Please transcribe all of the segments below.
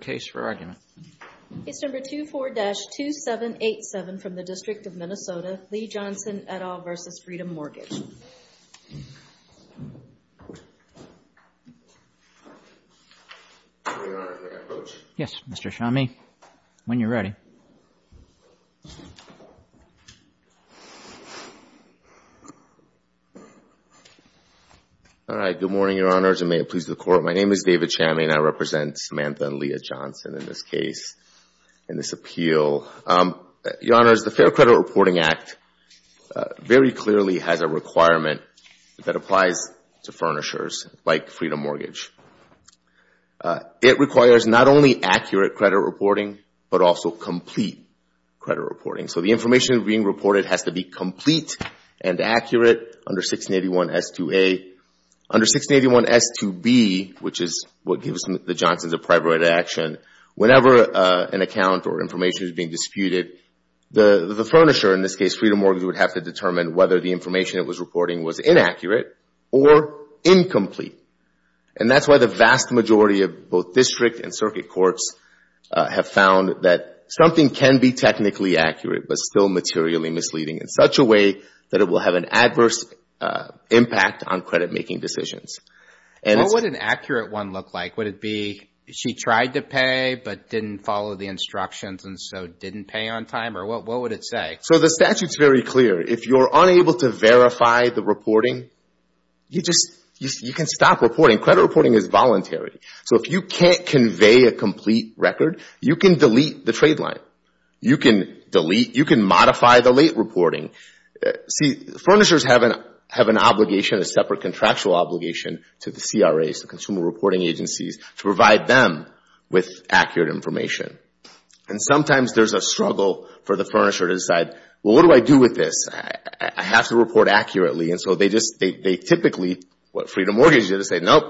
Case No. 24-2787 from the District of Minnesota, Lea Johnson, et al. v. Freedom Mortgage. Good morning, Your Honors, and may it please the Court. My name is David Chammey, and I represent Samantha and Lea Johnson in this case, in this appeal. Your Honors, the Fair Credit Reporting Act very clearly has a requirement that applies to furnishers like Freedom Mortgage. It requires not only accurate credit reporting, but also complete credit reporting. So the information being reported has to be complete and accurate under 1681 S2A. Under 1681 S2B, which is what gives the Johnsons a private action, whenever an account or information is being disputed, the furnisher, in this case Freedom Mortgage, would have to determine whether the information it was reporting was inaccurate or incomplete. And that's why the vast majority of both district and circuit courts have found that something can be technically accurate, but still materially misleading in such a way that it will have an adverse impact on credit making decisions. What would an accurate one look like? Would it be she tried to pay, but didn't follow the instructions and so didn't pay on time? Or what would it say? So the statute's very clear. If you're unable to verify the reporting, you can stop reporting. Credit reporting is voluntary. So if you can't convey a complete record, you can delete the trade line. You can delete, you can modify the late reporting. See, furnishers have an obligation, a separate contractual obligation to the CRAs, the Consumer Reporting Agencies, to provide them with accurate information. And sometimes there's a struggle for the furnisher to decide, well, what do I do with this? I have to report accurately. And so they just, they typically, what Freedom Mortgage did is say, nope,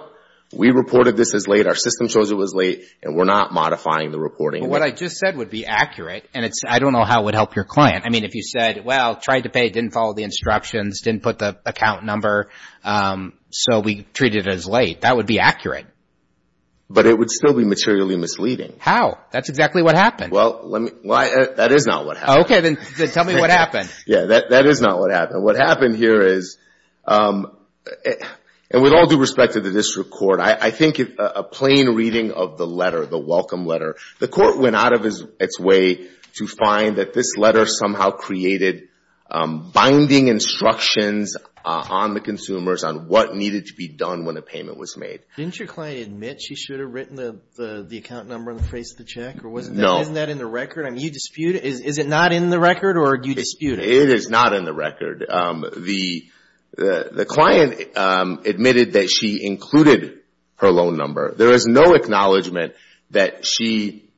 we reported this as late, our system shows it was late, and we're not modifying the reporting. What I just said would be accurate, and I don't know how it would help your client. I mean, if you said, well, tried to pay, didn't follow the instructions, didn't put the account number, so we treat it as late, that would be accurate. But it would still be materially misleading. How? That's exactly what happened. Well, let me, that is not what happened. Okay. Then tell me what happened. Yeah. That is not what happened. What happened here is, and with all due respect to the district court, I think a plain reading of the letter, the welcome letter, the court went out of its way to find that this letter somehow created binding instructions on the consumers on what needed to be done when a payment was made. Didn't your client admit she should have written the account number on the face of the check? No. Or wasn't that in the record? I mean, you dispute it. Is it not in the record, or do you dispute it? It is not in the record. The client admitted that she included her loan number. There is no acknowledgement that she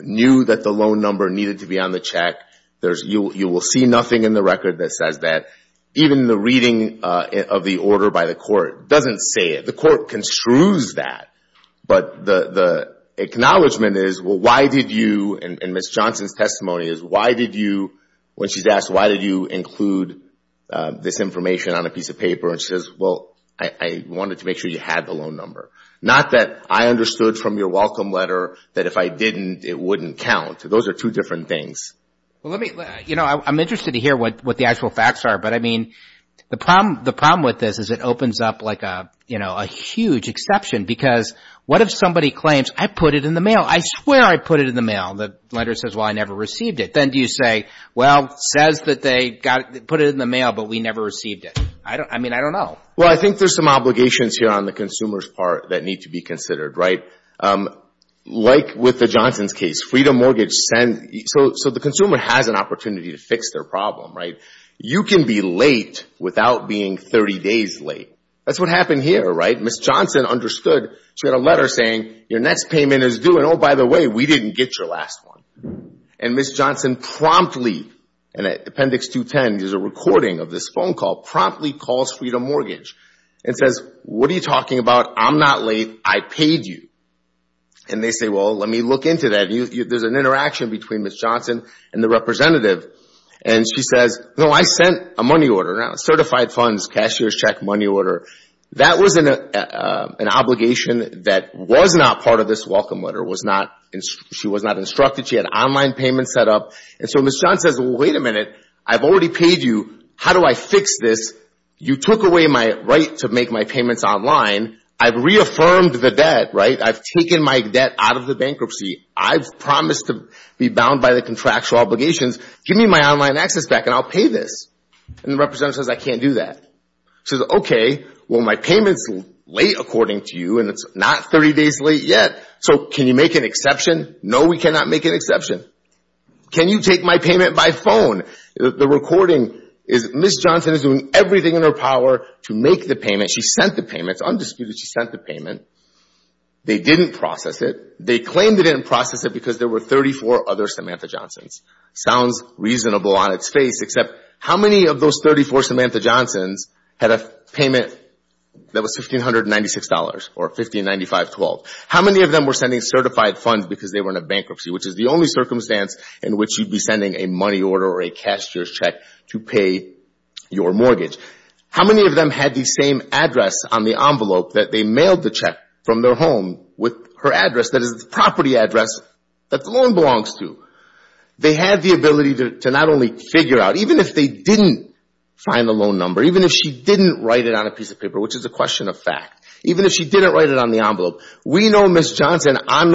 knew that the loan number needed to be on the check. You will see nothing in the record that says that. Even the reading of the order by the court doesn't say it. The court construes that, but the acknowledgement is, well, why did you, and Ms. Johnson's testimony is, why did you, when she's asked, why did you include this information on a piece of And she says, well, I wanted to make sure you had the loan number. Not that I understood from your welcome letter that if I didn't, it wouldn't count. Those are two different things. I'm interested to hear what the actual facts are, but I mean, the problem with this is it opens up like a huge exception, because what if somebody claims, I put it in the mail. I swear I put it in the mail. The letter says, well, I never received it. Then do you say, well, it says that they put it in the mail, but we never received it. I mean, I don't know. Well, I think there's some obligations here on the consumer's part that need to be considered. Like with the Johnson's case, Freedom Mortgage, so the consumer has an opportunity to fix their problem, right? You can be late without being 30 days late. That's what happened here, right? Ms. Johnson understood. She had a letter saying, your next payment is due, and oh, by the way, we didn't get your last one. And Ms. Johnson promptly, and Appendix 210 is a recording of this phone call, promptly calls Freedom Mortgage and says, what are you talking about? I'm not late. I paid you. And they say, well, let me look into that. There's an interaction between Ms. Johnson and the representative, and she says, no, I sent a money order, certified funds, cashier's check, money order. That was an obligation that was not part of this welcome letter. She was not instructed. She had online payments set up, and so Ms. Johnson says, well, wait a minute. I've already paid you. How do I fix this? You took away my right to make my payments online. I've reaffirmed the debt, right? I've taken my debt out of the bankruptcy. I've promised to be bound by the contractual obligations. Give me my online access back, and I'll pay this, and the representative says, I can't do that. She says, okay. Well, my payment's late, according to you, and it's not 30 days late yet, so can you make an exception? No, we cannot make an exception. Can you take my payment by phone? The recording is Ms. Johnson is doing everything in her power to make the payment. She sent the payment. It's undisputed she sent the payment. They didn't process it. They claimed they didn't process it because there were 34 other Samantha Johnsons. Sounds reasonable on its face, except how many of those 34 Samantha Johnsons had a payment that was $1,596, or $1,595.12? How many of them were sending certified funds because they were in a bankruptcy, which is the only circumstance in which you'd be sending a money order or a cashier's check to pay your mortgage? How many of them had the same address on the envelope that they mailed the check from their home with her address, that is the property address that the loan belongs to? They had the ability to not only figure out, even if they didn't find the loan number, even if she didn't write it on a piece of paper, which is a question of fact, even if she didn't write it on the envelope. We know Ms. Johnson, on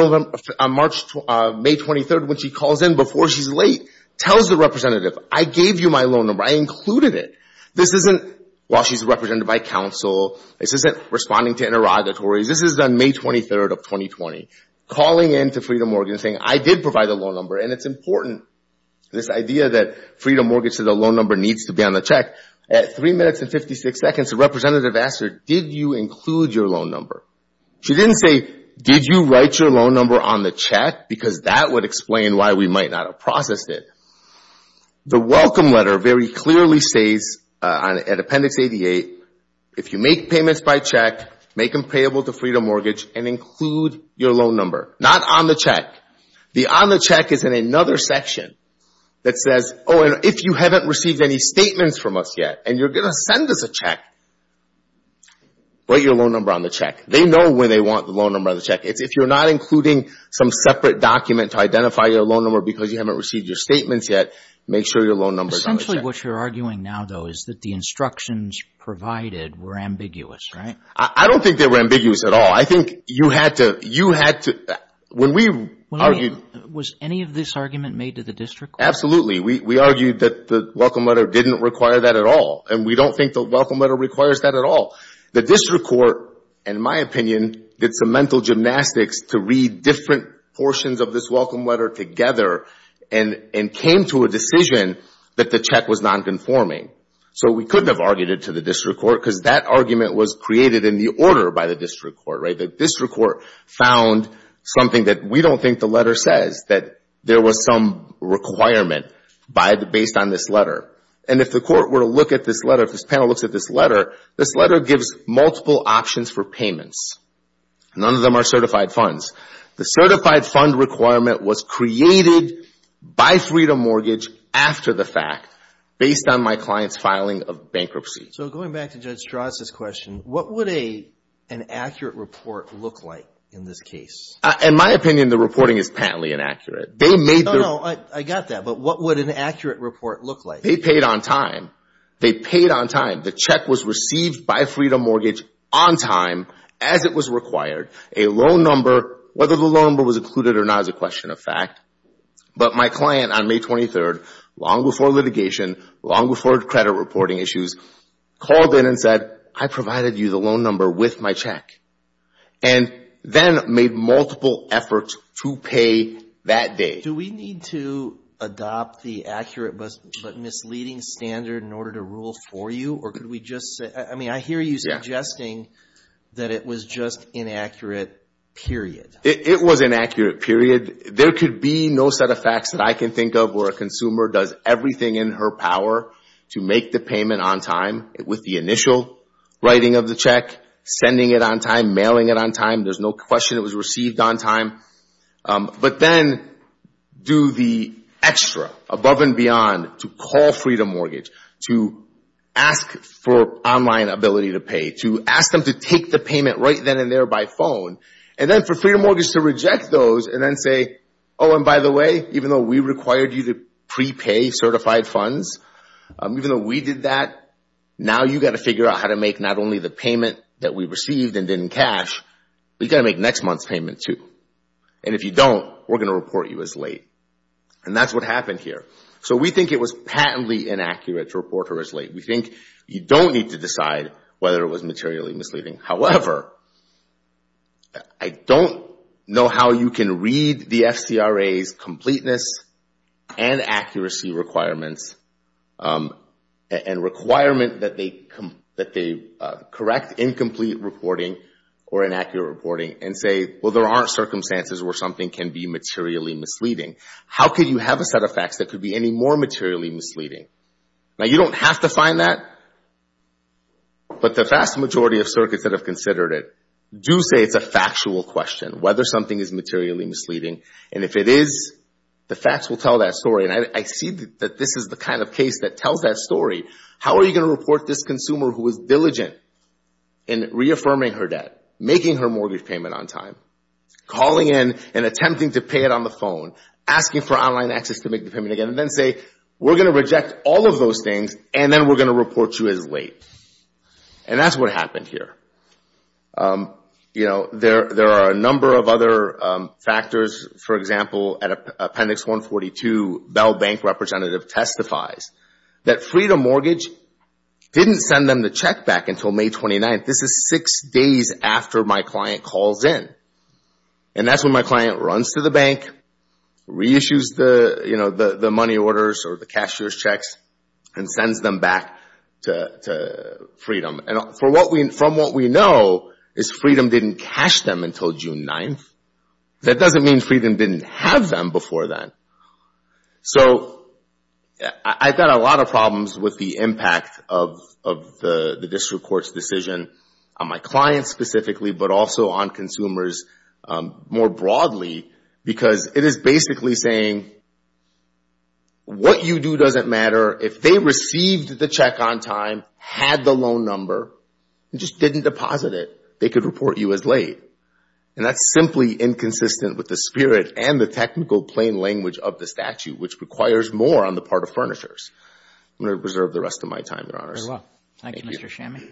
May 23rd, when she calls in before she's late, tells the representative, I gave you my loan number, I included it. This isn't, while she's represented by counsel, this isn't responding to interrogatories, this is on May 23rd of 2020, calling in to Freedom Mortgage and saying, I did provide the loan number, and it's important, this idea that Freedom Mortgage said the loan number needs to be on the check. At 3 minutes and 56 seconds, the representative asked her, did you include your loan number? She didn't say, did you write your loan number on the check, because that would explain why we might not have processed it. The welcome letter very clearly says, at Appendix 88, if you make payments by check, make them payable to Freedom Mortgage, and include your loan number, not on the check. The on the check is in another section that says, oh, and if you haven't received any statements from us yet, and you're going to send us a check, write your loan number on the check. They know where they want the loan number on the check. If you're not including some separate document to identify your loan number because you haven't received your statements yet, make sure your loan number is on the check. Essentially, what you're arguing now, though, is that the instructions provided were ambiguous, right? I don't think they were ambiguous at all. I think you had to, when we argued... Was any of this argument made to the district court? Absolutely. We argued that the welcome letter didn't require that at all, and we don't think the welcome letter requires that at all. The district court, in my opinion, did some mental gymnastics to read different portions of this welcome letter together and came to a decision that the check was non-conforming. So we couldn't have argued it to the district court because that argument was created in the order by the district court, right? The district court found something that we don't think the letter says, that there was some requirement based on this letter. And if the court were to look at this letter, if this panel looks at this letter, this letter gives multiple options for payments, none of them are certified funds. The certified fund requirement was created by Freedom Mortgage after the fact based on my client's filing of bankruptcy. So going back to Judge Strauss' question, what would an accurate report look like in this case? In my opinion, the reporting is patently inaccurate. They made the... No, no, I got that. But what would an accurate report look like? They paid on time. They paid on time. The check was received by Freedom Mortgage on time as it was required. A loan number, whether the loan number was included or not is a question of fact. But my client on May 23rd, long before litigation, long before credit reporting issues, called in and said, I provided you the loan number with my check. And then made multiple efforts to pay that day. Do we need to adopt the accurate but misleading standard in order to rule for you? Or could we just say... I mean, I hear you suggesting that it was just inaccurate, period. It was inaccurate, period. There could be no set of facts that I can think of where a consumer does everything in her power to make the payment on time with the initial writing of the check, sending it on time, mailing it on time. There's no question it was received on time. But then do the extra, above and beyond, to call Freedom Mortgage, to ask for online ability to pay, to ask them to take the payment right then and there by phone. And then for Freedom Mortgage to reject those and then say, oh, and by the way, even though we required you to prepay certified funds, even though we did that, now you got to figure out how to make not only the payment that we received and didn't cash, we got to make the next month's payment, too. And if you don't, we're going to report you as late. And that's what happened here. So we think it was patently inaccurate to report her as late. We think you don't need to decide whether it was materially misleading. However, I don't know how you can read the FCRA's completeness and accuracy requirements and requirement that they correct incomplete reporting or inaccurate reporting and say, well, there aren't circumstances where something can be materially misleading. How could you have a set of facts that could be any more materially misleading? Now, you don't have to find that, but the vast majority of circuits that have considered it do say it's a factual question, whether something is materially misleading. And if it is, the facts will tell that story. I see that this is the kind of case that tells that story. How are you going to report this consumer who was diligent in reaffirming her debt, making her mortgage payment on time, calling in and attempting to pay it on the phone, asking for online access to make the payment again, and then say, we're going to reject all of those things, and then we're going to report you as late. And that's what happened here. There are a number of other factors. For example, Appendix 142, Bell Bank representative testifies that Freedom Mortgage didn't send them the check back until May 29th. This is six days after my client calls in. And that's when my client runs to the bank, reissues the money orders or the cashier's checks, and sends them back to Freedom. And from what we know is Freedom didn't cash them until June 9th. That doesn't mean Freedom didn't have them before then. So I've got a lot of problems with the impact of the district court's decision on my clients specifically, but also on consumers more broadly, because it is basically saying, what you do doesn't matter. If they received the check on time, had the loan number, and just didn't deposit it, they could report you as late. And that's simply inconsistent with the spirit and the technical plain language of the statute, which requires more on the part of furnitures. I'm going to reserve the rest of my time, Your Honors. Thank you, Mr. Shammy.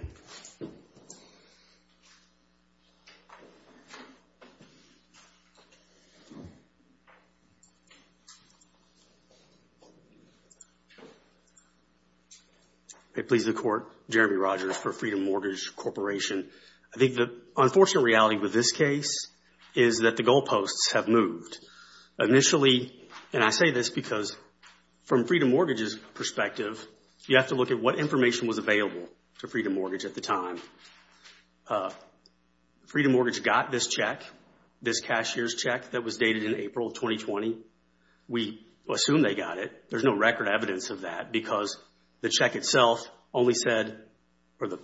It pleases the Court, Jeremy Rogers for Freedom Mortgage Corporation. I think the unfortunate reality with this case is that the goalposts have moved. Initially, and I say this because from Freedom Mortgage's perspective, you have to look at what information was available to Freedom Mortgage at the time. Freedom Mortgage got this check, this cashier's check that was dated in April 2020. We assume they got it. There's no record evidence of that because the check itself only said, or the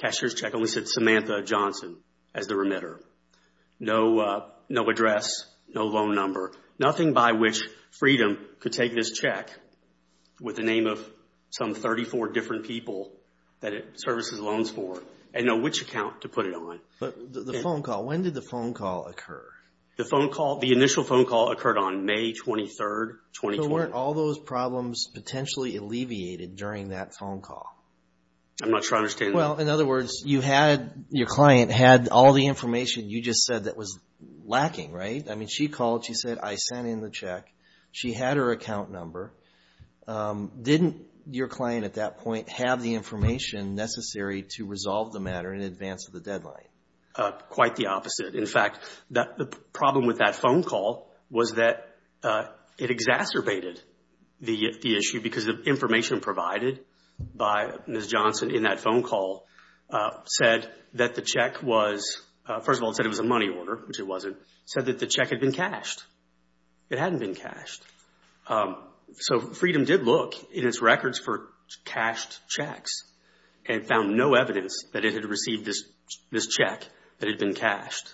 cashier's check only said, Samantha Johnson as the remitter. No address, no loan number, nothing by which Freedom could take this check with the name of some 34 different people that it services loans for and know which account to put it on. But the phone call, when did the phone call occur? The initial phone call occurred on May 23, 2020. So weren't all those problems potentially alleviated during that phone call? I'm not sure I understand that. Well, in other words, your client had all the information you just said that was lacking, right? I mean, she called, she said, I sent in the check. She had her account number. Didn't your client at that point have the information necessary to resolve the matter in advance of the deadline? Quite the opposite. In fact, the problem with that phone call was that it exacerbated the issue because the information provided by Ms. Johnson in that phone call said that the check was, first of all, it said it was a money order, which it wasn't. It said that the check had been cashed. It hadn't been cashed. So Freedom did look in its records for cashed checks and found no evidence that it had received this check that had been cashed.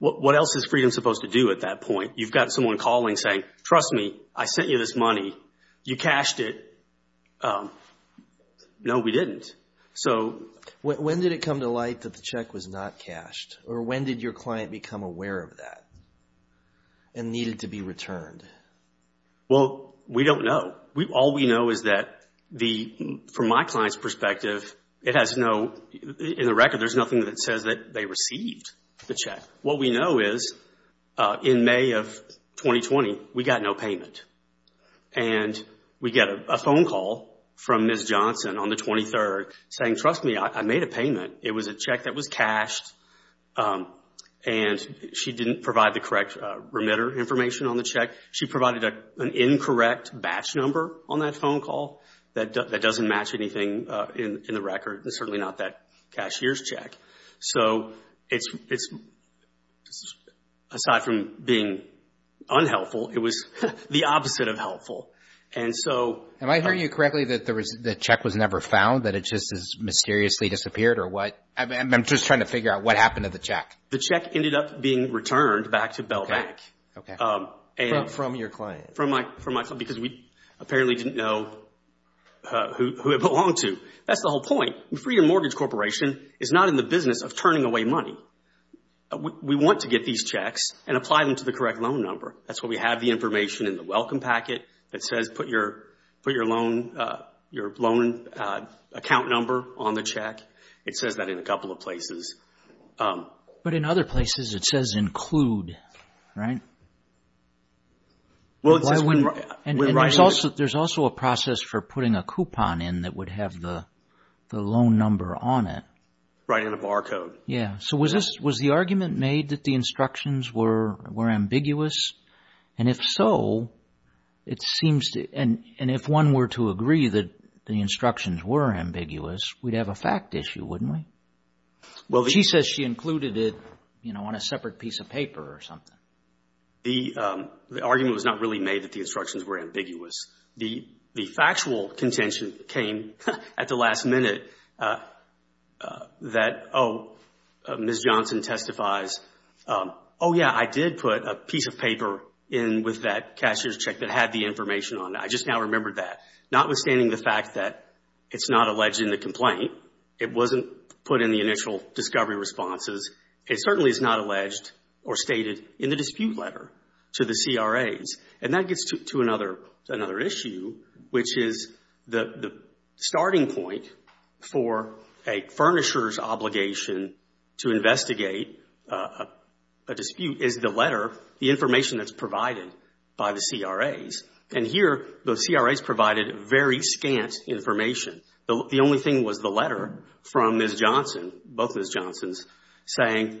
What else is Freedom supposed to do at that point? You've got someone calling saying, trust me, I sent you this money. You cashed it. No, we didn't. When did it come to light that the check was not cashed? Or when did your client become aware of that and needed to be returned? Well, we don't know. All we know is that from my client's perspective, it has no... In the record, there's nothing that says that they received the check. What we know is in May of 2020, we got no payment. And we get a phone call from Ms. Johnson on the 23rd saying, trust me, I made a payment. It was a check that was cashed and she didn't provide the correct remitter information on the check. She provided an incorrect batch number on that phone call that doesn't match anything in the record and certainly not that cashier's check. So aside from being unhelpful, it was the opposite of helpful. Am I hearing you correctly that the check was never found, that it just mysteriously disappeared? I'm just trying to figure out what happened to the check. The check ended up being returned back to Bell Bank. From your client. From my client because we apparently didn't know who it belonged to. That's the whole point. Freedom Mortgage Corporation is not in the business of turning away money. We want to get these checks and apply them to the correct loan number. That's why we have the information in the welcome packet that says put your loan account number on the check. It says that in a couple of places. But in other places, it says include, right? There's also a process for putting a coupon in that would have the loan number on it. Right in the barcode. Yeah. So was the argument made that the instructions were ambiguous? And if so, it seems to, and if one were to agree that the instructions were ambiguous, we'd have a fact issue, wouldn't we? She says she included it, you know, on a separate piece of paper or something. The argument was not really made that the instructions were ambiguous. The factual contention came at the last minute that, oh, Ms. Johnson testifies, oh, yeah, I did put a piece of paper in with that cashier's check that had the information on it. I just now remembered that. Notwithstanding the fact that it's not alleged in the complaint, it wasn't put in the initial discovery responses, it certainly is not alleged or stated in the dispute letter to the CRAs. And that gets to another issue, which is the starting point for a furnisher's obligation to investigate a dispute is the letter, the information that's provided by the CRAs. And here, the CRAs provided very scant information. The only thing was the letter from Ms. Johnson, both Ms. Johnsons, saying,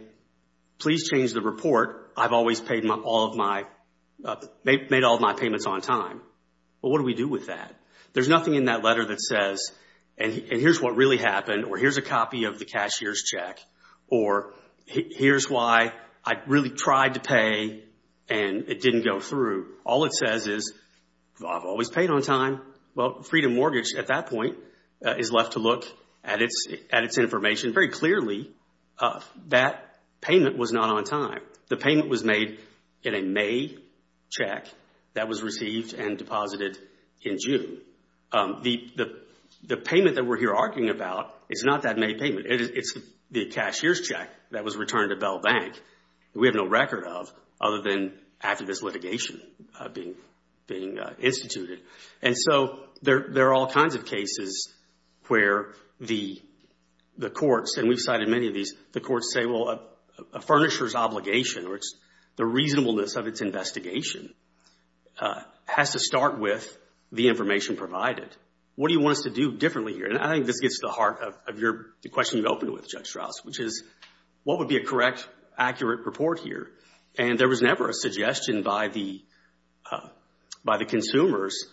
please change the report. I've always made all of my payments on time. Well, what do we do with that? There's nothing in that letter that says, and here's what really happened, or here's a copy of the cashier's check, or here's why I really tried to pay and it didn't go through. All it says is, I've always paid on time. Well, Freedom Mortgage, at that point, is left to look at its information. Very clearly, that payment was not on time. The payment was made in a May check that was received and deposited in June. The payment that we're here arguing about is not that May payment. It's the cashier's check that was returned to Bell Bank that we have no record of other than after this litigation being instituted. There are all kinds of cases where the courts, and we've cited many of these, the courts say, well, a furnisher's obligation, or the reasonableness of its investigation, has to start with the information provided. What do you want us to do differently here? I think this gets to the heart of the question you opened with, Judge Strauss, which is, what would be a correct, accurate report here? There was never a suggestion by the consumers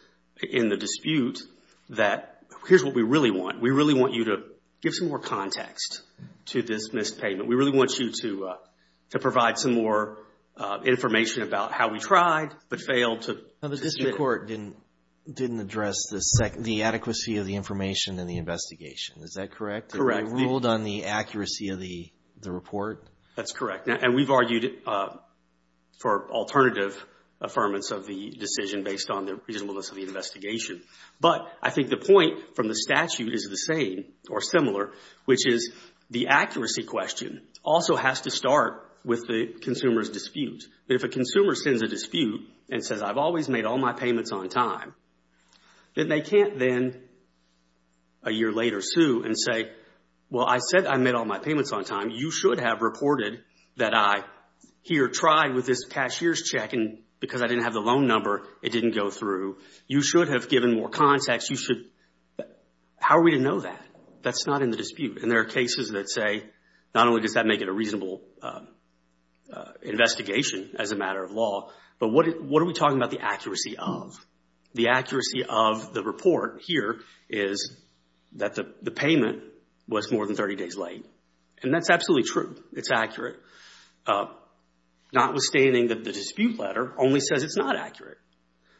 in the dispute that, here's what we really want. We really want you to give some more context to this missed payment. We really want you to provide some more information about how we tried, but failed to submit it. The Supreme Court didn't address the adequacy of the information in the investigation. Is that correct? Correct. They ruled on the accuracy of the report? That's correct. And we've argued for alternative affirmance of the decision based on the reasonableness of the investigation. But I think the point from the statute is the same, or similar, which is the accuracy question also has to start with the consumer's dispute. If a consumer sends a dispute and says, I've always made all my payments on time, then they can't then, a year later, sue and say, well, I said I made all my payments on time. You should have reported that I here tried with this cashier's check and because I didn't have the loan number, it didn't go through. You should have given more context. How are we to know that? That's not in the dispute. And there are cases that say, not only does that make it a reasonable investigation as a matter of law, but what are we talking about the accuracy of? The accuracy of the report here is that the payment was more than 30 days late. And that's absolutely true. It's accurate, notwithstanding that the dispute letter only says it's not accurate.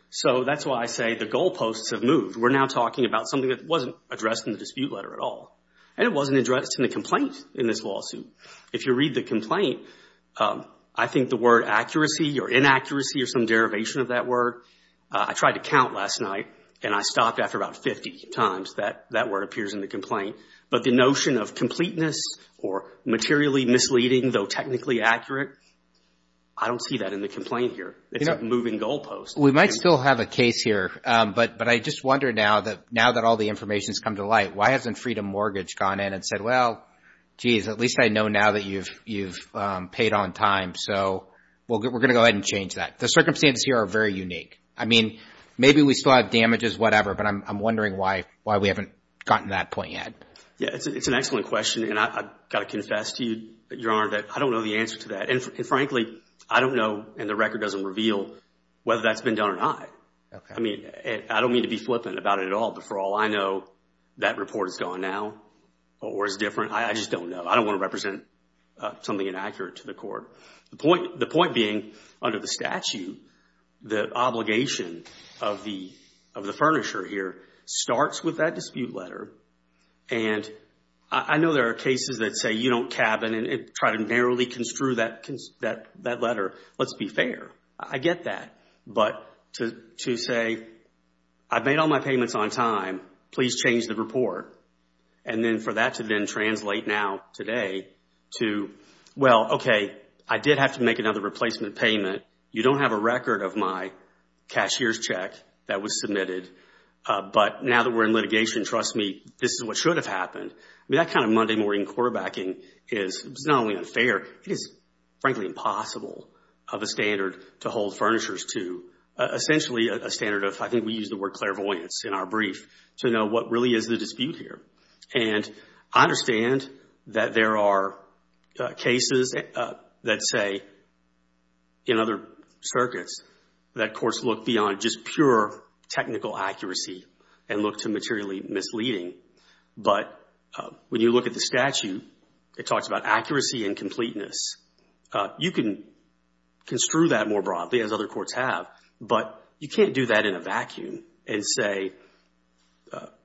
So that's why I say the goalposts have moved. We're now talking about something that wasn't addressed in the dispute letter at all. And it wasn't addressed in the complaint in this lawsuit. If you read the complaint, I think the word accuracy or inaccuracy or some derivation of that word, I tried to count last night and I stopped after about 50 times that that word appears in the complaint. But the notion of completeness or materially misleading, though technically accurate, I don't see that in the complaint here. It's a moving goalpost. We might still have a case here, but I just wonder now that all the information has come to light, why hasn't Freedom Mortgage gone in and said, well, geez, at least I know now that you've paid on time. So we're going to go ahead and change that. The circumstances here are very unique. I mean, maybe we still have damages, whatever, but I'm wondering why we haven't gotten to that point yet. Yeah, it's an excellent question, and I've got to confess to you, Your Honor, that I don't know the answer to that. And frankly, I don't know, and the record doesn't reveal, whether that's been done or not. I mean, I don't mean to be flippant about it at all, but for all I know, that report is gone now or is different. I just don't know. I don't want to represent something inaccurate to the court. The point being, under the statute, the obligation of the furnisher here starts with that dispute letter. And I know there are cases that say you don't cabin and try to narrowly construe that letter. Let's be fair. I get that. But to say, I've made all my payments on time. Please change the report. And then for that to then translate now today to, well, okay, I did have to make another replacement payment. You don't have a record of my cashier's check that was submitted. But now that we're in litigation, trust me, this is what should have happened. I mean, that kind of Monday morning quarterbacking is not only unfair, it is frankly impossible of a standard to hold furnishers to. Essentially, a standard of, I think we use the word clairvoyance in our brief, to know what really is the dispute here. And I understand that there are cases that say, in other circuits, that courts look beyond just pure technical accuracy and look to materially misleading. But when you look at the statute, it talks about accuracy and completeness. You can construe that more broadly, as other courts have, but you can't do that in a vacuum and say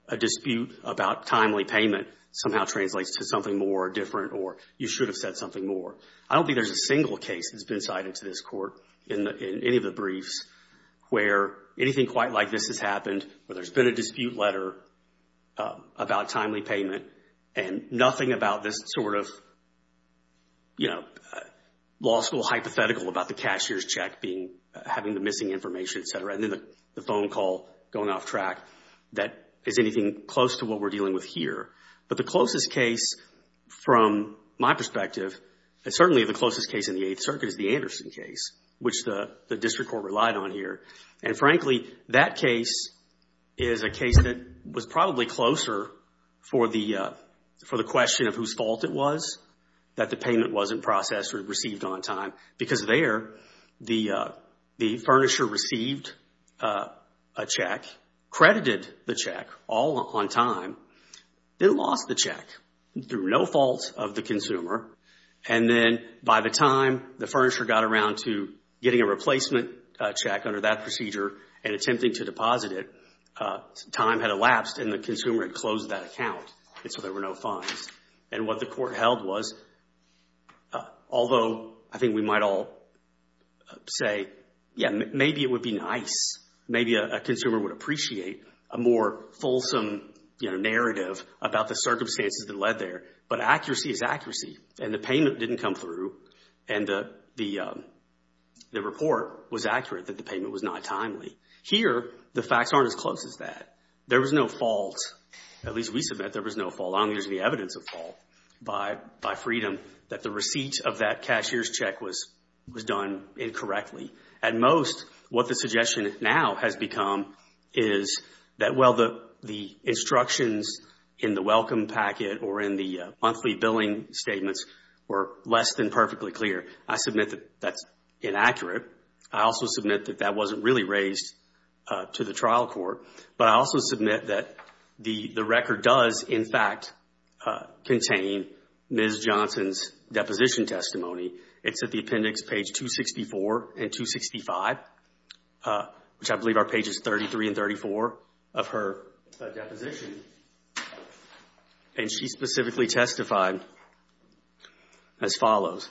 a dispute about timely payment somehow translates to something more or different or you should have said something more. I don't think there's a single case that's been cited to this court in any of the briefs where anything quite like this has happened, where there's been a dispute letter about timely payment and nothing about this sort of law school hypothetical about the cashier's check having the missing information, et cetera, and then the phone call going off track that is anything close to what we're dealing with here. But the closest case, from my perspective, and certainly the closest case in the Eighth Circuit is the Anderson case, which the district court relied on here. And frankly, that case is a case that was probably closer for the question of whose fault it was that the payment wasn't processed or received on time because there the furnisher received a check, credited the check all on time, then lost the check through no fault of the consumer, and then by the time the furnisher got around to getting a replacement check under that procedure and attempting to deposit it, time had elapsed and the consumer had closed that account, and so there were no fines. And what the court held was, although I think we might all say, yeah, maybe it would be nice, maybe a consumer would appreciate a more fulsome narrative about the circumstances that led there, but accuracy is accuracy and the payment didn't come through and the report was accurate that the payment was not timely. Here, the facts aren't as close as that. There was no fault. At least we submit there was no fault. As long as there's any evidence of fault by Freedom that the receipt of that cashier's check was done incorrectly. At most, what the suggestion now has become is that, well, the instructions in the welcome packet or in the monthly billing statements were less than perfectly clear. I submit that that's inaccurate. I also submit that that wasn't really raised to the trial court, but I also submit that the record does, in fact, contain Ms. Johnson's deposition testimony. It's at the appendix page 264 and 265, which I believe are pages 33 and 34 of her deposition, and she specifically testified as follows.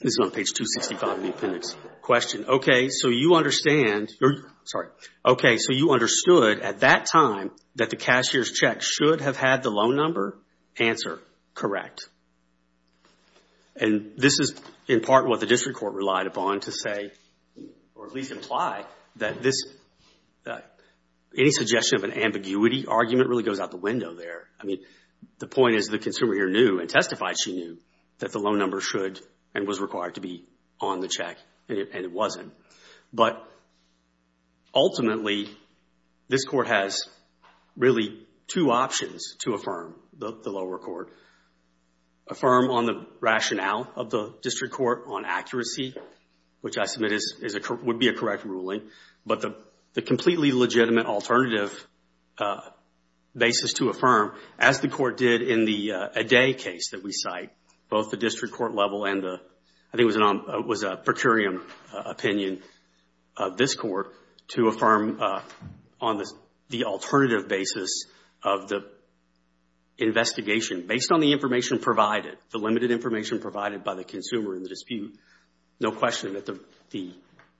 This is on page 265 of the appendix. Okay, so you understand at that time that the cashier's check should have had the loan number? Answer, correct. And this is in part what the district court relied upon to say or at least imply that any suggestion of an ambiguity argument really goes out the window there. I mean, the point is the consumer here knew and testified she knew that the loan number should and was required to be on the check, and it wasn't. But ultimately, this court has really two options to affirm the lower court. Affirm on the rationale of the district court on accuracy, which I submit would be a correct ruling, but the completely legitimate alternative basis to affirm, as the court did in the Adai case that we cite, both the district court level and the, I think it was a per curiam opinion of this court, to affirm on the alternative basis of the investigation. Based on the information provided, the limited information provided by the consumer in the dispute, no question that the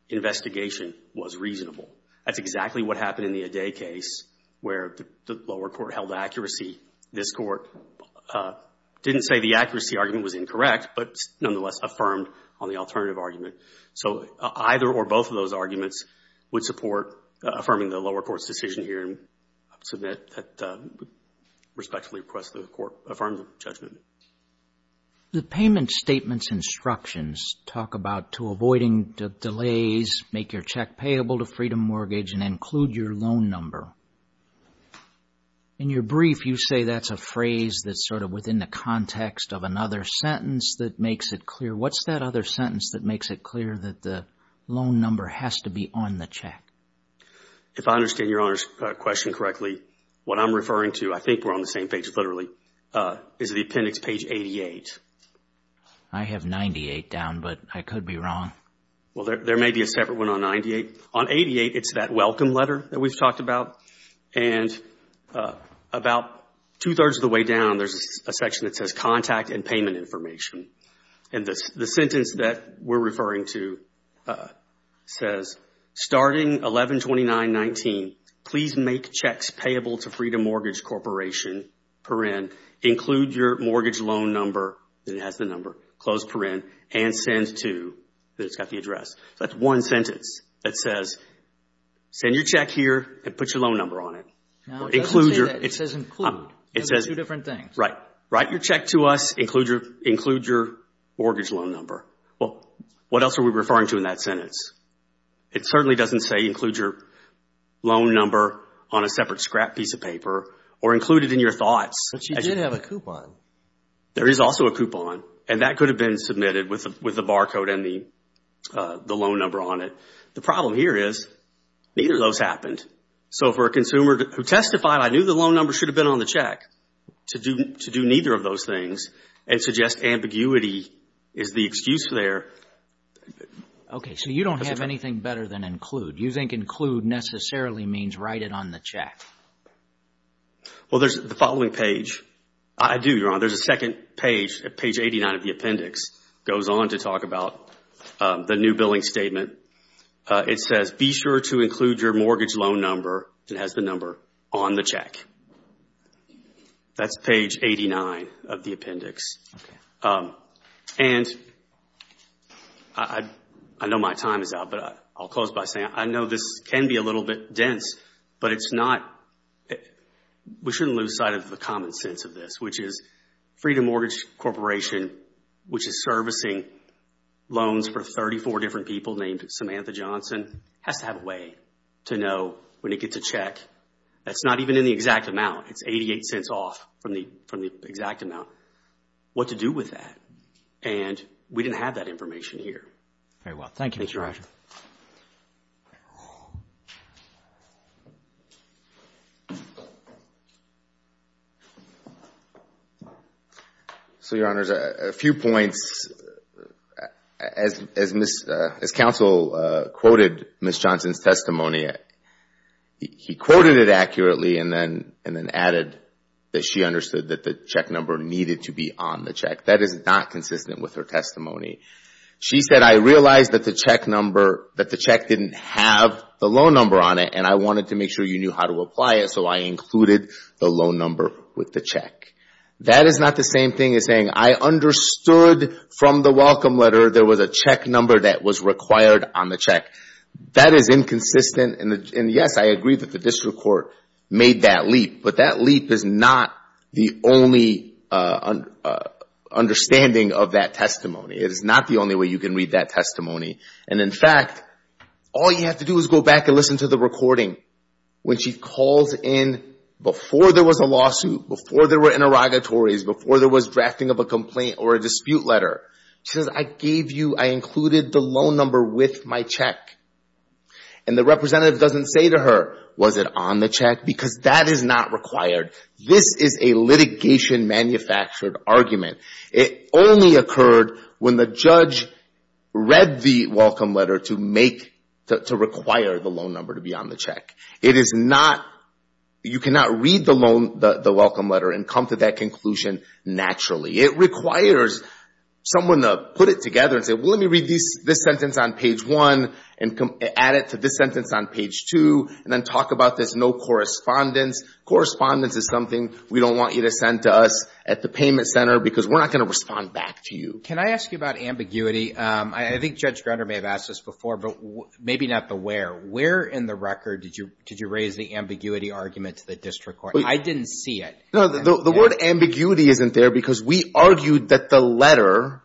investigation was reasonable. That's exactly what happened in the Adai case, where the lower court held accuracy. This court didn't say the accuracy argument was incorrect, but nonetheless affirmed on the alternative argument. So either or both of those arguments would support affirming the lower court's decision here, and I submit that respectfully request the court affirm the judgment. The payment statements instructions talk about to avoiding delays, make your check payable to Freedom Mortgage, and include your loan number. In your brief, you say that's a phrase that's sort of within the context of another sentence that makes it clear. What's that other sentence that makes it clear that the loan number has to be on the check? If I understand Your Honor's question correctly, what I'm referring to, I think we're on the same page literally, is the appendix page 88. I have 98 down, but I could be wrong. Well, there may be a separate one on 98. On 88, it's that welcome letter that we've talked about. And about two-thirds of the way down, there's a section that says contact and payment information. And the sentence that we're referring to says, starting 11-29-19, please make checks payable to Freedom Mortgage Corporation, per in, include your mortgage loan number, then it has the number, close per in, and send to, then it's got the address. That's one sentence that says, send your check here and put your loan number on it. No, it doesn't say that. It says include. It says two different things. Right. Write your check to us, include your mortgage loan number. Well, what else are we referring to in that sentence? It certainly doesn't say include your loan number on a separate scrap piece of paper or include it in your thoughts. But you did have a coupon. There is also a coupon, and that could have been submitted with the barcode and the loan number on it. The problem here is, neither of those happened. So for a consumer who testified, I knew the loan number should have been on the check, to do neither of those things and suggest ambiguity is the excuse there. Okay. So you don't have anything better than include. You think include necessarily means write it on the check. Well, there's the following page. I do, Your Honor. There's a second page, page 89 of the appendix. It goes on to talk about the new billing statement. It says be sure to include your mortgage loan number. It has the number on the check. That's page 89 of the appendix. Okay. And I know my time is out, but I'll close by saying I know this can be a little bit dense, but it's not. We shouldn't lose sight of the common sense of this, which is Freedom Mortgage Corporation, which is servicing loans for 34 different people named Samantha Johnson, has to have a way to know when it gets a check that's not even in the exact amount. It's 88 cents off from the exact amount, what to do with that. And we didn't have that information here. Very well. Thank you. Thank you, Your Honor. So, Your Honor, there's a few points. As counsel quoted Ms. Johnson's testimony, he quoted it accurately and then added that she understood that the check number needed to be on the check. That is not consistent with her testimony. She said, I realized that the check didn't have the loan number on it and I wanted to make sure you knew how to apply it, so I included the loan number with the check. That is not the same thing as saying I understood from the welcome letter there was a check number that was required on the check. That is inconsistent. And, yes, I agree that the district court made that leap, but that leap is not the only understanding of that testimony. It is not the only way you can read that testimony. And, in fact, all you have to do is go back and listen to the recording. When she calls in before there was a lawsuit, before there were interrogatories, before there was drafting of a complaint or a dispute letter, she says, I gave you, I included the loan number with my check. And the representative doesn't say to her, was it on the check? Because that is not required. This is a litigation manufactured argument. It only occurred when the judge read the welcome letter to make, to require the loan number to be on the check. It is not, you cannot read the welcome letter and come to that conclusion naturally. It requires someone to put it together and say, well, let me read this sentence on page one and add it to this sentence on page two and then talk about this no correspondence. Correspondence is something we don't want you to send to us at the payment center because we're not going to respond back to you. Can I ask you about ambiguity? I think Judge Grunder may have asked this before, but maybe not the where. Where in the record did you raise the ambiguity argument to the district court? I didn't see it. No, the word ambiguity isn't there because we argued that the letter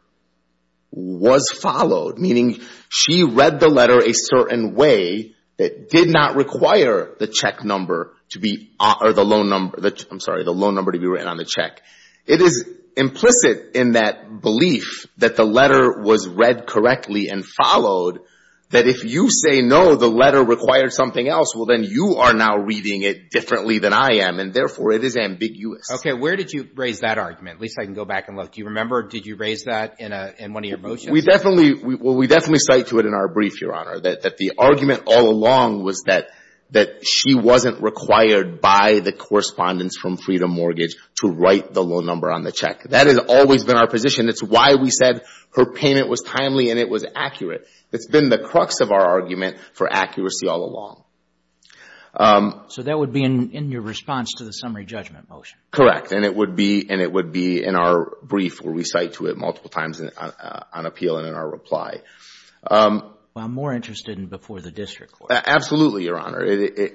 was followed, meaning she read the letter a certain way that did not require the check number to be, or the loan number, I'm sorry, the loan number to be written on the check. It is implicit in that belief that the letter was read correctly and followed, that if you say no, the letter required something else, well then you are now reading it differently than I am, and therefore it is ambiguous. Okay. Where did you raise that argument? At least I can go back and look. Do you remember? Did you raise that in one of your motions? We definitely cite to it in our brief, Your Honor, that the argument all along was that she wasn't required by the correspondence from Freedom Mortgage to write the loan number on the check. That has always been our position. It's why we said her payment was timely and it was accurate. It's been the crux of our argument for accuracy all along. So that would be in your response to the summary judgment motion? Correct. And it would be in our brief where we cite to it multiple times on appeal and in our reply. Well, I'm more interested in before the district court. Absolutely, Your Honor.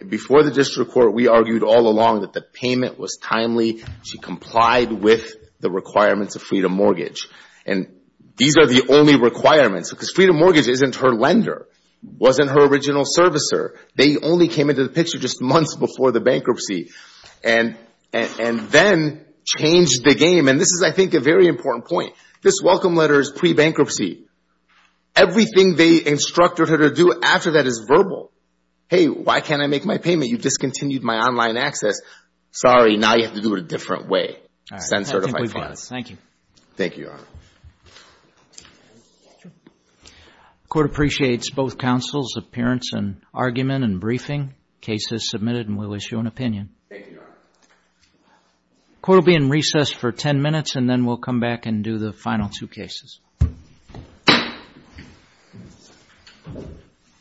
Before the district court, we argued all along that the payment was timely. She complied with the requirements of Freedom Mortgage. And these are the only requirements because Freedom Mortgage isn't her lender, wasn't her original servicer. They only came into the picture just months before the bankruptcy, and then changed the game. And this is, I think, a very important point. This welcome letter is pre-bankruptcy. Everything they instructed her to do after that is verbal. Hey, why can't I make my payment? You discontinued my online access. Sorry, now you have to do it a different way. Send certified funds. Thank you. Thank you, Your Honor. The court appreciates both counsel's appearance and argument and briefing. The case is submitted and we'll issue an opinion. Thank you, Your Honor. The court will be in recess for 10 minutes, and then we'll come back and do the final two cases.